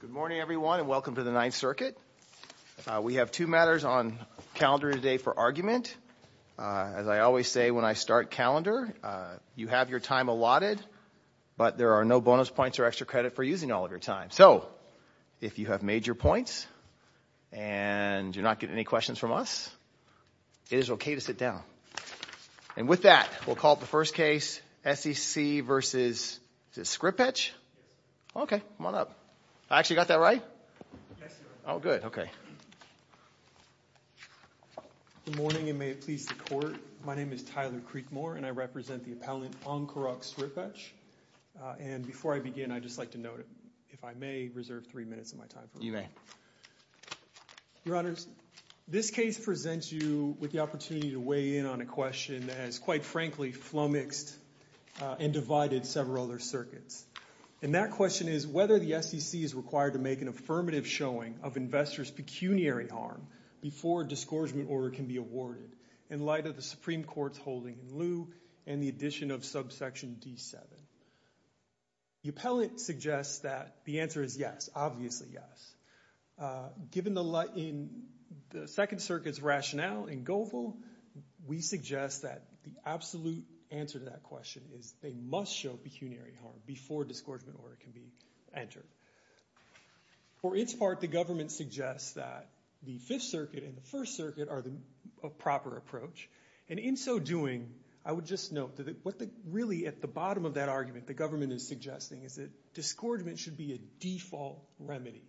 Good morning everyone and welcome to the Ninth Circuit. We have two matters on calendar today for argument. As I always say when I start calendar, you have your time allotted, but there are no bonus points or extra credit for using all of your time. So, if you have made your points and you're not getting any questions from us, it is okay to sit down. And with that, we'll call up the first case, SEC v. Sripetch. Okay, come on up. I actually got that right? Yes, sir. Oh, good. Okay. Good morning and may it please the court. My name is Tyler Creekmore and I represent the appellant, Ankurok Sripetch. And before I begin, I'd just like to note, if I may, reserve three minutes of my time. You may. Your honors, this case presents you with the opportunity to weigh in on a question that has quite frankly flummoxed and divided several other circuits. And that question is whether the SEC is required to make an affirmative showing of investors' pecuniary harm before a disgorgement order can be awarded in light of the Supreme Court's holding in lieu and the addition of subsection D-7. The appellant suggests that the answer is yes, obviously yes. Given the Second Circuit's rationale in Goebel, we suggest that the absolute answer to that question is they must show pecuniary harm before a disgorgement order can be entered. For its part, the government suggests that the Fifth Circuit and the First Circuit are in favor of a proper approach. And in so doing, I would just note that what really at the bottom of that argument the government is suggesting is that disgorgement should be a default remedy.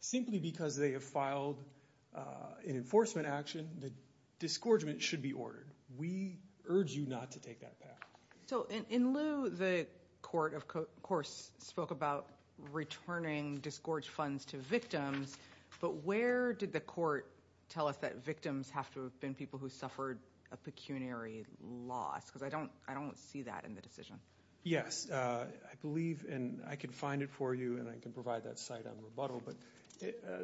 Simply because they have filed an enforcement action, the disgorgement should be ordered. We urge you not to take that path. So in lieu, the court, of course, spoke about returning disgorge funds to victims. But where did the court tell us that victims have to have been people who suffered a pecuniary loss? Because I don't see that in the decision. Yes. I believe, and I can find it for you and I can provide that site on rebuttal, but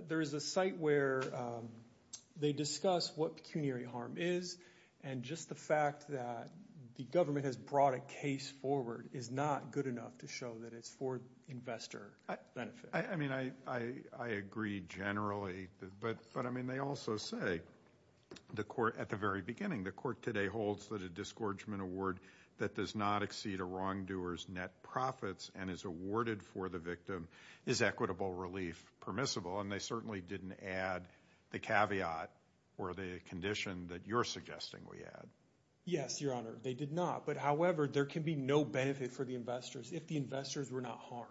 there is a site where they discuss what pecuniary harm is. And just the fact that the government has brought a case forward is not good enough to show that it's for investor benefit. I mean, I agree generally. But I mean, they also say, at the very beginning, the court today holds that a disgorgement award that does not exceed a wrongdoer's net profits and is awarded for the victim is equitable relief permissible. And they certainly didn't add the caveat or the condition that you're suggesting we add. Yes, Your Honor, they did not. But however, there can be no benefit for the investors if the investors were not harmed.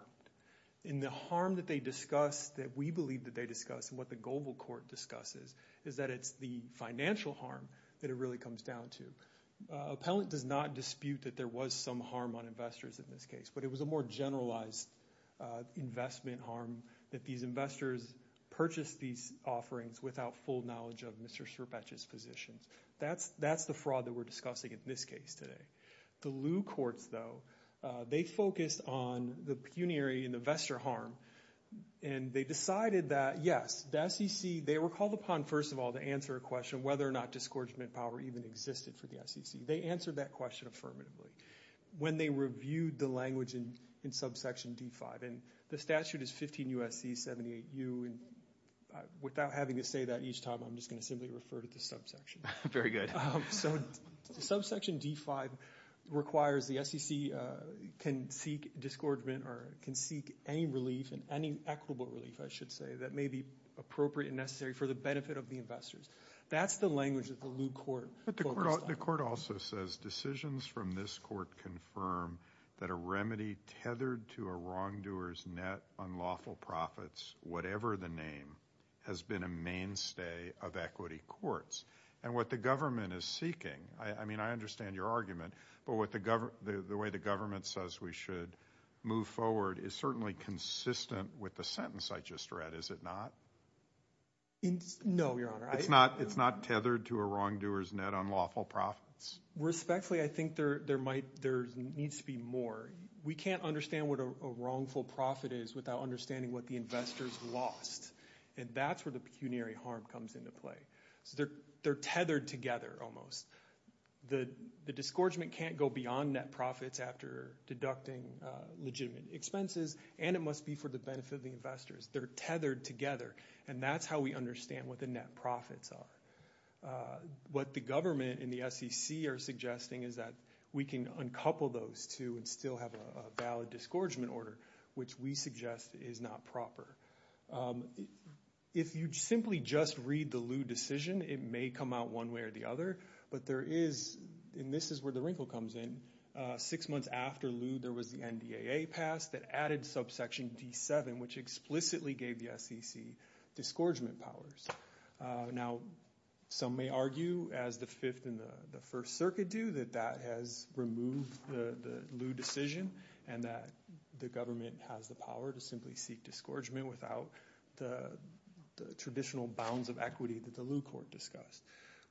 And the harm that they discuss, that we believe that they discuss, and what the global court discusses, is that it's the financial harm that it really comes down to. Appellant does not dispute that there was some harm on investors in this case. But it was a more generalized investment harm that these investors purchased these offerings without full knowledge of Mr. Sirpach's positions. That's the fraud that we're discussing in this case today. The Lew courts, though, they focused on the pecuniary and the investor harm. And they decided that, yes, the SEC, they were called upon, first of all, to answer a question of whether or not disgorgement power even existed for the SEC. They answered that question affirmatively when they reviewed the language in subsection D5. And the statute is 15 U.S.C. 78U. And without having to say that each time, I'm just going to simply refer to the subsection. Very good. So subsection D5 requires the SEC can seek disgorgement or can seek any relief and any equitable relief, I should say, that may be appropriate and necessary for the benefit of the investors. That's the language that the Lew court focused on. But the court also says decisions from this court confirm that a remedy tethered to a wrongdoer's net on lawful profits, whatever the name, has been a mainstay of equity courts. And what the government is seeking, I mean, I understand your argument, but the way the government says we should move forward is certainly consistent with the sentence I just read, is it not? No, Your Honor. It's not tethered to a wrongdoer's net on lawful profits? Respectfully, I think there needs to be more. We can't understand what a wrongful profit is without understanding what the investors lost. And that's where the pecuniary harm comes into play. So they're tethered together almost. The disgorgement can't go beyond net profits after deducting legitimate expenses, and it must be for the benefit of the investors. They're tethered together. And that's how we understand what the net profits are. What the government and the SEC are suggesting is that we can uncouple those two and still have a valid disgorgement order, which we suggest is not proper. If you simply just read the Lew decision, it may come out one way or the other, but there is, and this is where the wrinkle comes in, six months after Lew there was the NDAA passed that added subsection D7, which explicitly gave the SEC disgorgement powers. Now, some may argue, as the Fifth and the First Circuit do, that that has removed the Lew decision and that the government has the power to simply seek disgorgement without the traditional bounds of equity that the Lew court discussed.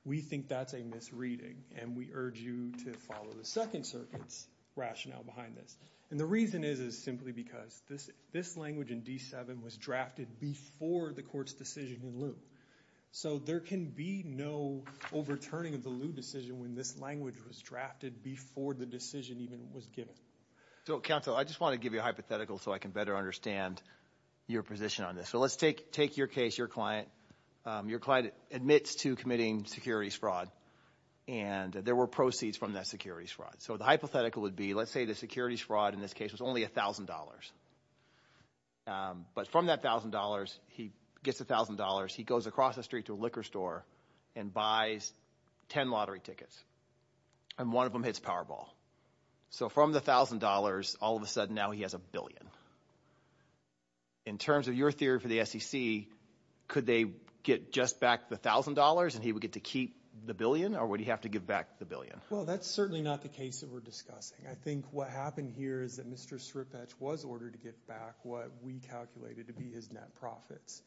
We think that's a misreading, and we urge you to follow the Second Circuit's rationale behind this. And the reason is simply because this language in D7 was drafted before the court's decision in Lew. So there can be no overturning of the Lew decision when this language was drafted before the decision even was given. So, counsel, I just want to give you a hypothetical so I can better understand your position on this. So let's take your case, your client. Your client admits to committing securities fraud, and there were proceeds from that securities fraud. So the hypothetical would be, let's say the securities fraud in this case was only $1,000. But from that $1,000, he gets $1,000, he goes across the street to a liquor store and buys 10 lottery tickets. And one of them hits Powerball. So from the $1,000, all of a sudden now he has a billion. In terms of your theory for the SEC, could they get just back the $1,000 and he would get to keep the billion? Or would he have to give back the billion? Well, that's certainly not the case that we're discussing. I think what happened here is that Mr. Sripach was ordered to give back what we calculated to be his net profits.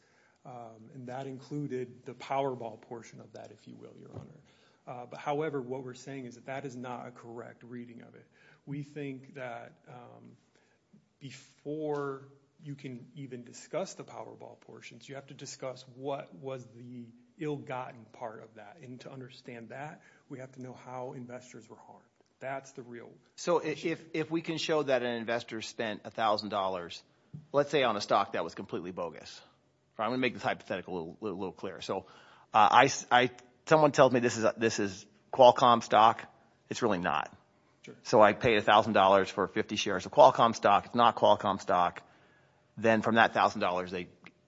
And that included the Powerball portion of that, if you will, Your Honor. However, what we're saying is that that is not a correct reading of it. We think that before you can even discuss the Powerball portions, you have to discuss what was the ill-gotten part of that. And to understand that, we have to know how investors were harmed. That's the real So if we can show that an investor spent $1,000, let's say on a stock that was completely bogus. I'm going to make this hypothetical a little clearer. So someone tells me this is Qualcomm stock. It's really not. So I pay $1,000 for 50 shares of Qualcomm stock. It's not Qualcomm stock. Then from that $1,000, they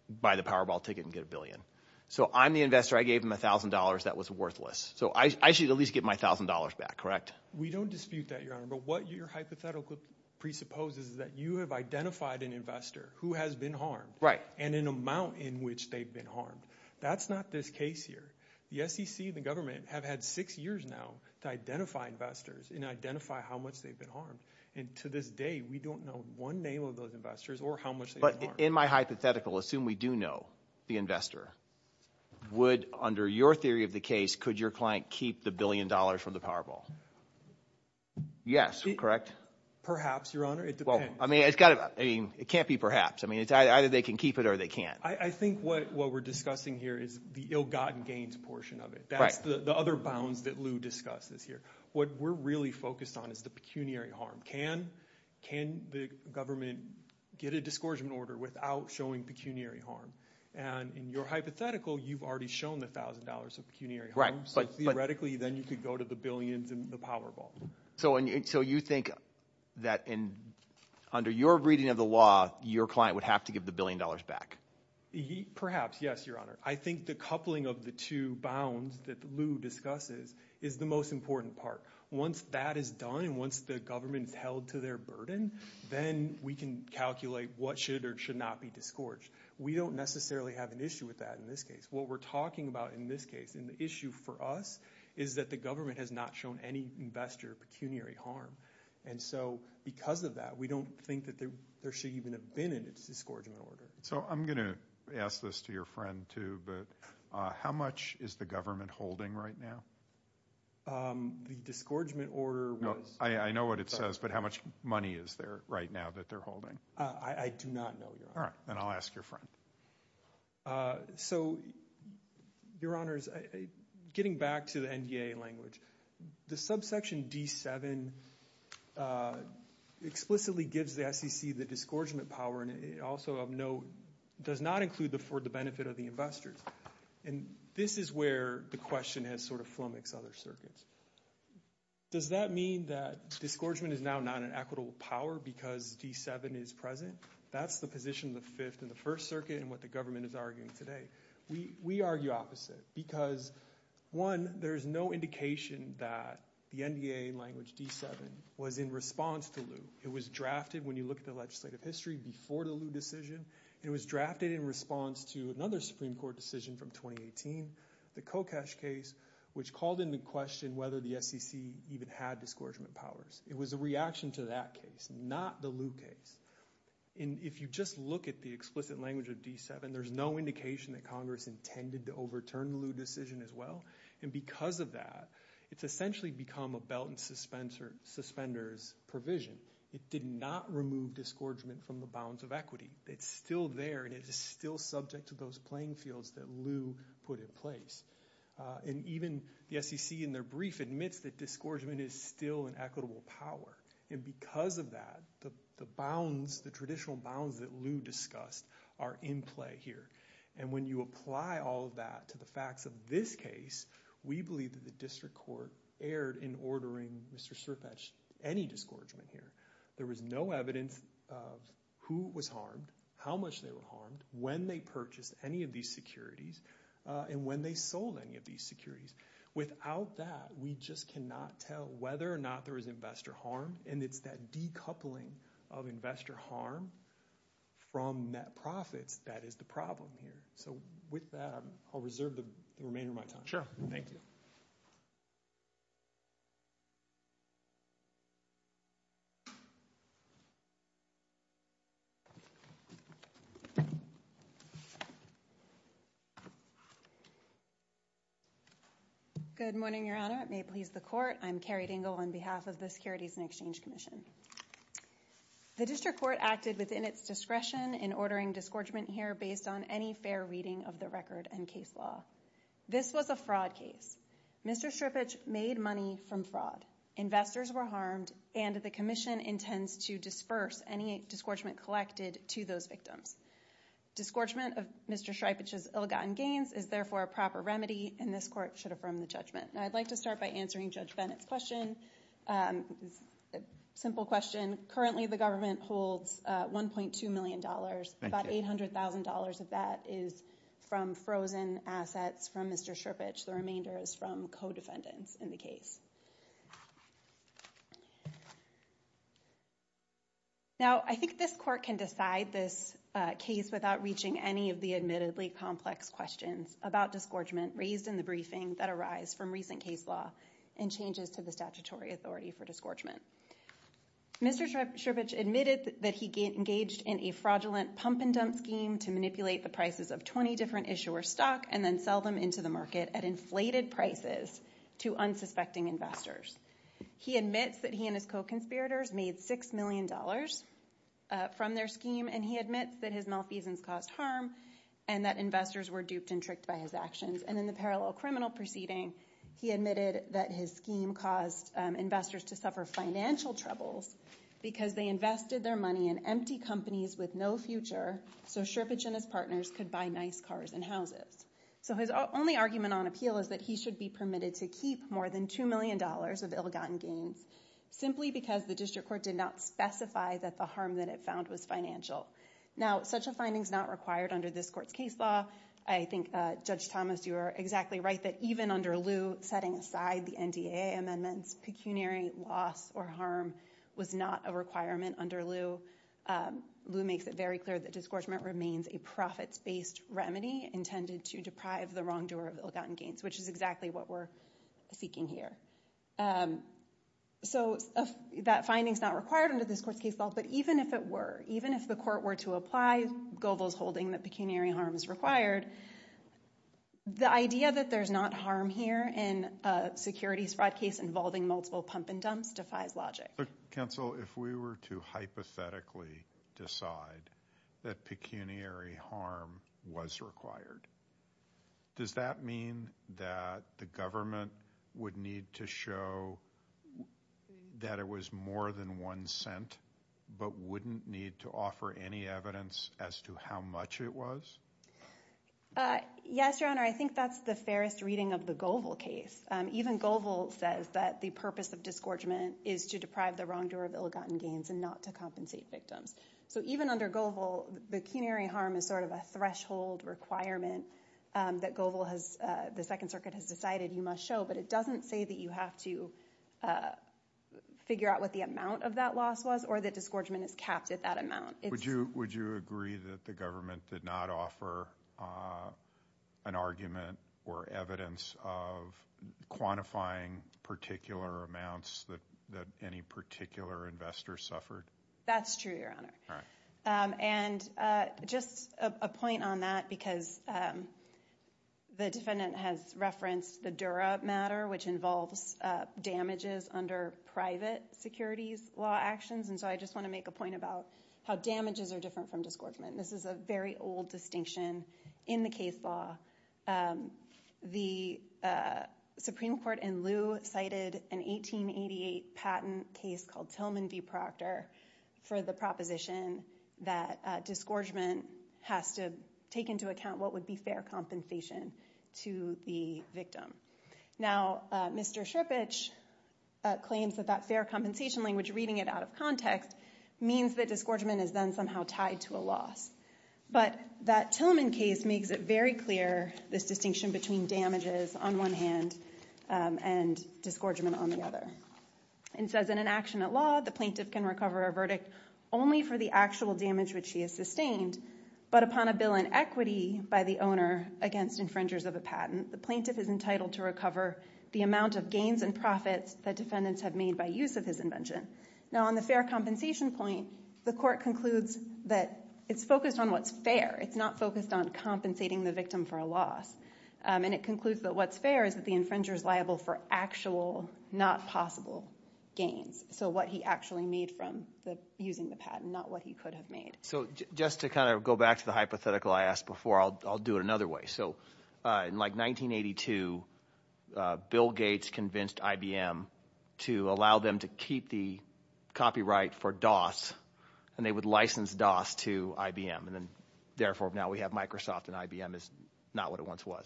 buy the Powerball ticket and get a billion. So I'm the investor. I gave him $1,000 that was worthless. So I should at least get my $1,000 back, correct? We don't dispute that, Your Honor. But what your hypothetical presupposes is that you have identified an investor who has been harmed and an amount in which they've been harmed. That's not this case here. The SEC and the government have had six years now to identify investors and identify how much they've been harmed. And to this day, we don't know one name of those investors or how much they've been harmed. But in my hypothetical, assume we do know the investor. Under your theory of the case, could your client keep the billion dollars from the Powerball? Yes, correct? Perhaps, Your Honor. It depends. It can't be perhaps. Either they can keep it or they can't. I think what we're discussing here is the ill-gotten gains portion of it. That's the other bounds that Lou discussed this year. What we're really focused on is the pecuniary harm. Can the government get a discouragement order without showing pecuniary harm? And in your hypothetical, you've already shown the $1,000 of pecuniary harm. So theoretically, then you could go to the billions and the Powerball. So you think that under your reading of the law, your client would have to give the billion dollars back? Perhaps. Yes, Your Honor. I think the coupling of the two bounds that Lou discusses is the most important part. Once that is done and once the government is held to their burden, then we can calculate what should or should not be discouraged. We don't necessarily have an issue with that in this case. What we're talking about in this case, and the issue for us, is that the government has not shown any investor pecuniary harm. And so because of that, we don't think that there should even have been a discouragement order. So I'm going to ask this to your friend too, but how much is the government holding right now? The discouragement order was... I know what it says, but how much money is there right now that they're holding? I do not know, Your Honor. All right, then I'll ask your friend. So Your Honors, getting back to the NDA language, the subsection D7 explicitly gives the SEC the discouragement power, and also of note, does not include the for the benefit of the investors. And this is where the question has sort of flummoxed other circuits. Does that mean that discouragement is now not an equitable power because D7 is present? That's the position of the Fifth and the First Circuit and what the government is arguing today. We argue opposite because, one, there is no indication that the NDA language D7 was in response to Lew. It was drafted, when you look at the legislative history, before the Lew decision. It was drafted in response to another Supreme Court decision from 2018, the Kokesh case, which called into question whether the SEC even had discouragement powers. It was a reaction to that case, not the Lew case. And if you just look at the explicit language of D7, there's no indication that Congress intended to overturn the Lew decision as well. And because of that, it's essentially become a belt and suspenders provision. It did not remove discouragement from the bounds of equity. It's still there and it is still subject to those playing fields that Lew put in place. And even the SEC in their brief admits that discouragement is still an equitable power. And because of that, the traditional bounds that Lew discussed are in play here. And when you apply all of that to the facts of this case, we believe that the district court erred in ordering Mr. Sirfetch'd any discouragement here. There was no evidence of who was harmed, how much they were harmed, when they purchased any of these securities, and when they sold any of these securities. Without that, we just cannot tell whether or not there was investor harm. And it's that decoupling of investor harm from net profits that is the problem here. So with that, I'll reserve the remainder of my time. Sure. Thank you. Good morning, Your Honor. It may please the court. I'm Carrie Dingell on behalf of the Securities and Exchange Commission. The district court acted within its discretion in ordering discouragement here based on any fair reading of the record and case law. This was a fraud case. Mr. Sirfetch'd made money from fraud. Investors were harmed and the commission intends to disperse any discouragement collected to those victims. Discouragement of Mr. Sirfetch'd's ill-gotten gains is therefore a proper remedy and this court should affirm the judgment. Now, I'd like to start by answering Judge Bennett's question. It's a simple question. Currently, the government holds $1.2 million. About $800,000 of that is from frozen assets from Mr. Sirfetch'd. The remainder is from co-defendants in the case. Now, I think this court can decide this case without reaching any of the admittedly complex questions about discouragement raised in the briefing that arise from recent case law and changes to the statutory authority for discouragement. Mr. Sirfetch'd admitted that he engaged in a fraudulent pump and dump scheme to manipulate the prices of 20 different issuers' stock and then sell them into the market at inflated prices to unsuspecting investors. He admits that he and his co-conspirators made $6 million from their scheme and he admits that his malfeasance caused harm and that investors were duped and tricked by his actions. And in the parallel criminal proceeding, he admitted that his scheme caused investors to suffer financial troubles because they invested their money in empty companies with no future so Sirfetch'd and his partners could buy nice cars and houses. So his only argument on appeal is that he should be permitted to keep more than $2 million of ill-gotten gains simply because the district court did not specify that the harm that it found was financial. Now, such a finding is not required under this court's case law. I think, Judge Thomas, you are exactly right that even under Lew, setting aside the NDAA amendments, pecuniary loss or harm was not a requirement under Lew. Lew makes it very clear that discouragement remains a profits-based remedy intended to deprive the wrongdoer of ill-gotten gains, which is exactly what we're seeking here. So that finding is not required under this court's case law, but even if it were, even if the court were to apply Goebel's holding that pecuniary harm is required, the idea that there's not harm here in a securities fraud case involving multiple pump and dumps defies logic. But counsel, if we were to hypothetically decide that pecuniary harm was required, does that mean that the government would need to show that it was more than $0.01 but wouldn't need to offer any evidence as to how much it was? Yes, Your Honor. I think that's the fairest reading of the Goebel case. Even Goebel says that the purpose of discouragement is to deprive the wrongdoer of ill-gotten gains and not to compensate victims. So even under Goebel, the pecuniary harm is sort of a threshold requirement that Goebel has, the Second Circuit has decided you must show, but it doesn't say that you have to figure out what the amount of that loss was or that discouragement is capped at that amount. Would you agree that the government did not offer an argument or evidence of quantifying particular amounts that any particular investor suffered? That's true, Your Honor. And just a point on that, because the defendant has referenced the Dura matter, which involves damages under private securities law actions, and so I just want to make a point about how damages are different from discouragement. This is a very old distinction in the case law. The Supreme Court in lieu cited an 1888 patent case called Tillman v. Proctor for the proposition that discouragement has to take into account what would be fair compensation to the victim. Now, Mr. Sripich claims that that fair compensation language reading it out of context means that discouragement is then somehow tied to a loss. But that Tillman case makes it very clear, this distinction between damages on one hand and discouragement on the other. It says in an action at law, the plaintiff can recover a verdict only for the actual damage which he has sustained, but upon a bill in equity by the owner against infringers of a patent, the plaintiff is entitled to recover the amount of gains and profits that defendants have made by use of his invention. Now, on the fair compensation point, the court concludes that it's focused on what's fair. It's not focused on compensating the victim for a loss. And it concludes that what's fair is that the infringer is liable for actual, not possible, gains. So what he actually made from using the patent, not what he could have made. So just to kind of go back to the hypothetical I asked before, I'll do it another way. So in like 1982, Bill Gates convinced IBM to allow them to keep the copyright for DOS and they would license DOS to IBM. And then therefore now we have Microsoft and IBM is not what it once was.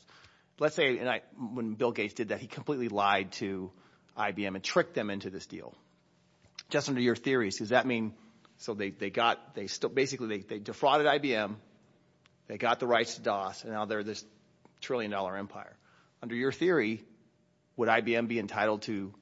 Let's say when Bill Gates did that, he completely lied to IBM and tricked them into this deal. Just under your theories, does that mean, so they defrauded IBM, they got the rights to DOS and now they're this trillion dollar empire. Under your theory, would IBM be entitled to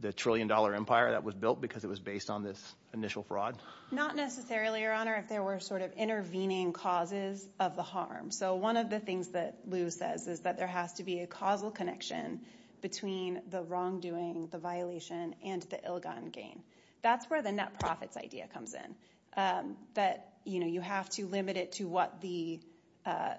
the trillion dollar empire that was built because it was based on this initial fraud? Not necessarily, your honor, if there were sort of intervening causes of the harm. So one of the things that Lou says is that there has to be a causal connection between the wrongdoing, the violation, and the ill-gotten gain. That's where the net profits idea comes in. That you have to limit it to what the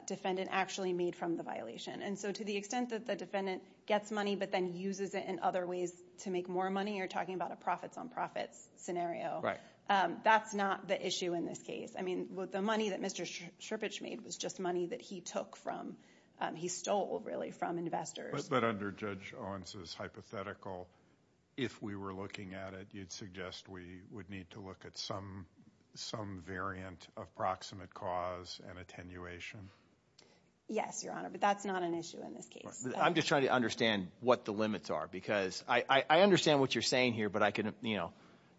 defendant actually made from the violation. And so to the extent that the defendant gets money but then uses it in other ways to make more money, you're talking about a profits on profits scenario. That's not the issue in this case. I mean, the money that Mr. Sherpich made was just money that he took from, he stole really, from investors. But under Judge Owens' hypothetical, if we were looking at it, you'd suggest we would need to look at some variant of proximate cause and attenuation? Yes, your honor, but that's not an issue in this case. I'm just trying to understand what the limits are because I understand what you're saying here but I could, you know,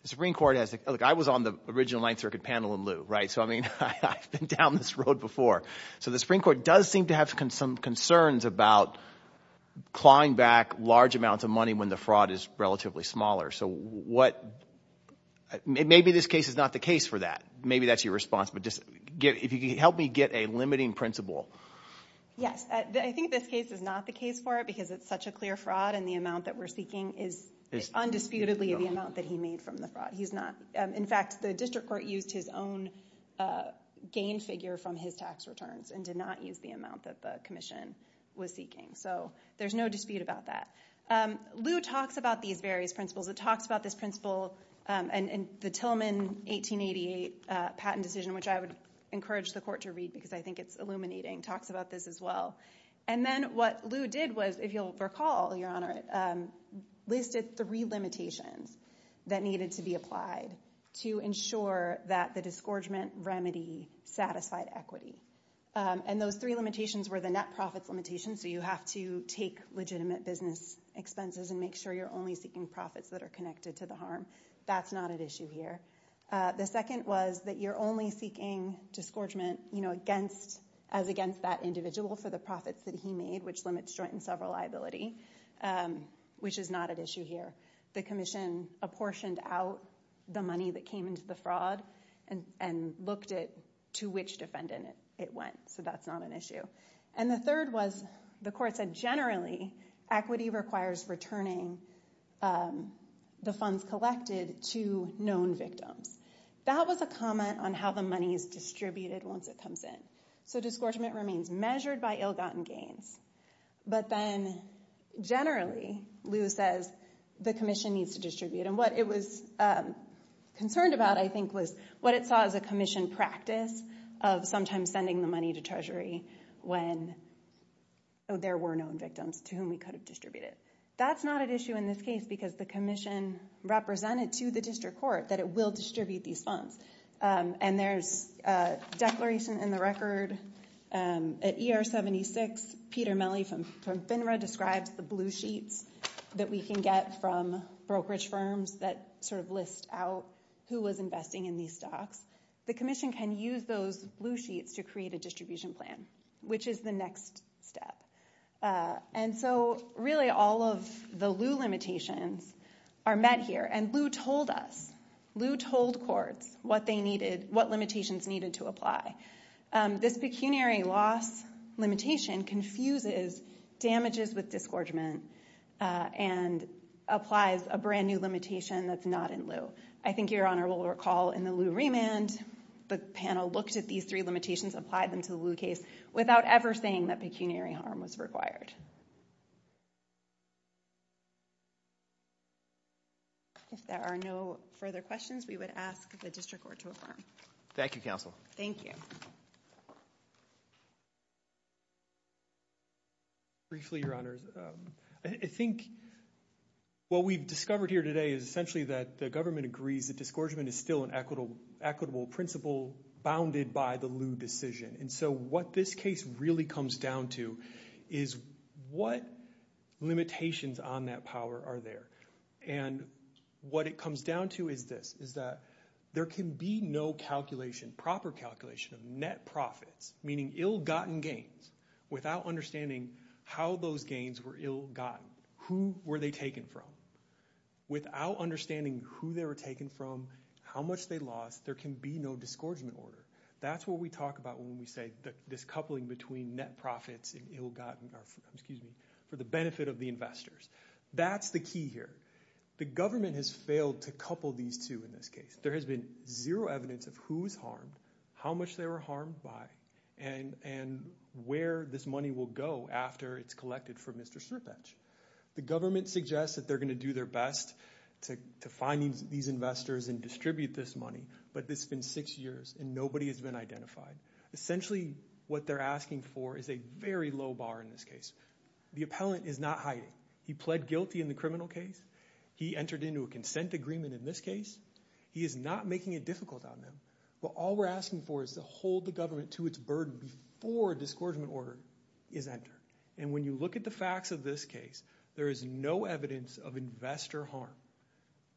the Supreme Court has, look, I was on the original Ninth Circuit panel in lieu, right? So I mean, I've been down this road before. So the Supreme Court does seem to have some concerns about clawing back large amounts of money when the fraud is relatively smaller. So what, maybe this case is not the case for that. Maybe that's your response. But just, if you could help me get a limiting principle. Yes, I think this case is not the case for it because it's such a clear fraud and the amount that we're seeking is undisputedly the amount that he made from the fraud. He's not, in fact, the district court used his own gain figure from his tax returns and did not use the amount that the commission was seeking. So there's no dispute about that. Lew talks about these various principles. It talks about this principle and the Tillman 1888 patent decision, which I would encourage the court to read because I think it's illuminating, talks about this as well. And then what Lew did was, if you'll recall, Your Honor, listed three limitations that needed to be applied to ensure that the disgorgement remedy satisfied equity. And those three limitations were the net profits limitations. So you have to take legitimate business expenses and make sure you're only seeking profits that are connected to the harm. That's not an issue here. The second was that you're only seeking disgorgement as against that individual for the profits that he made, which limits joint and several liability, which is not an issue here. The commission apportioned out the money that came into the fraud and looked at to which defendant it went. So that's not an issue. And the third was, the court said, generally, equity requires returning the funds collected to known victims. That was a comment on how the money is distributed once it comes in. So disgorgement remains measured by ill-gotten gains. But then, generally, Lew says, the commission needs to distribute. And what it was concerned about, I think, was what it saw as a commission practice of sometimes sending the money to Treasury when there were known victims to whom we could have distributed. That's not an issue in this case because the commission represented to the district court that it will distribute these funds. And there's a declaration in the record. At ER 76, Peter Melle from FINRA describes the blue sheets that we can get from brokerage firms that sort of list out who was investing in these stocks. The commission can use those blue sheets to create a distribution plan, which is the next step. And so, really, all of the Lew limitations are met here. And Lew told us, Lew told courts what they needed, what limitations needed to apply. This pecuniary loss limitation confuses damages with disgorgement and applies a brand new limitation that's not in Lew. I think Your Honor will recall in the Lew remand, the panel looked at these three limitations, applied them to the Lew case without ever saying that pecuniary harm was required. If there are no further questions, we would ask the district court to affirm. Thank you, counsel. Thank you. Briefly, Your Honors, I think what we've discovered here today is essentially that the government agrees that disgorgement is still an equitable principle bounded by the Lew decision. And so, what this case really comes down to is what is the disgorgement that we're talking about? What limitations on that power are there? And what it comes down to is this, is that there can be no calculation, proper calculation of net profits, meaning ill-gotten gains, without understanding how those gains were ill-gotten. Who were they taken from? Without understanding who they were taken from, how much they lost, there can be no disgorgement order. That's what we talk about when we say this coupling between net profits and ill-gotten for the benefit of the investors. That's the key here. The government has failed to couple these two in this case. There has been zero evidence of who's harmed, how much they were harmed by, and where this money will go after it's collected from Mr. Sierpec. The government suggests that they're going to do their best to find these investors and distribute this money, but this has been six years and nobody has been identified. Essentially, what they're asking for is a very low bar in this case. The appellant is not hiding. He pled guilty in the criminal case. He entered into a consent agreement in this case. He is not making it difficult on them, but all we're asking for is to hold the government to its burden before a disgorgement order is entered. And when you look at the facts of this case, there is no evidence of investor harm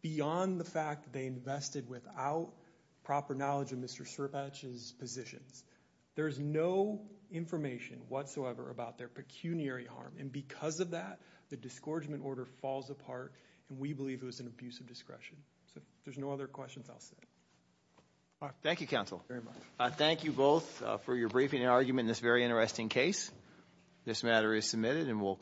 beyond the fact that they invested without proper knowledge of Mr. Sierpec's positions. There is no information whatsoever about their pecuniary harm, and because of that, the disgorgement order falls apart, and we believe it was an abuse of discretion. So if there's no other questions, I'll stop. Thank you, counsel. Thank you both for your briefing and argument in this very interesting case. This matter is submitted and we'll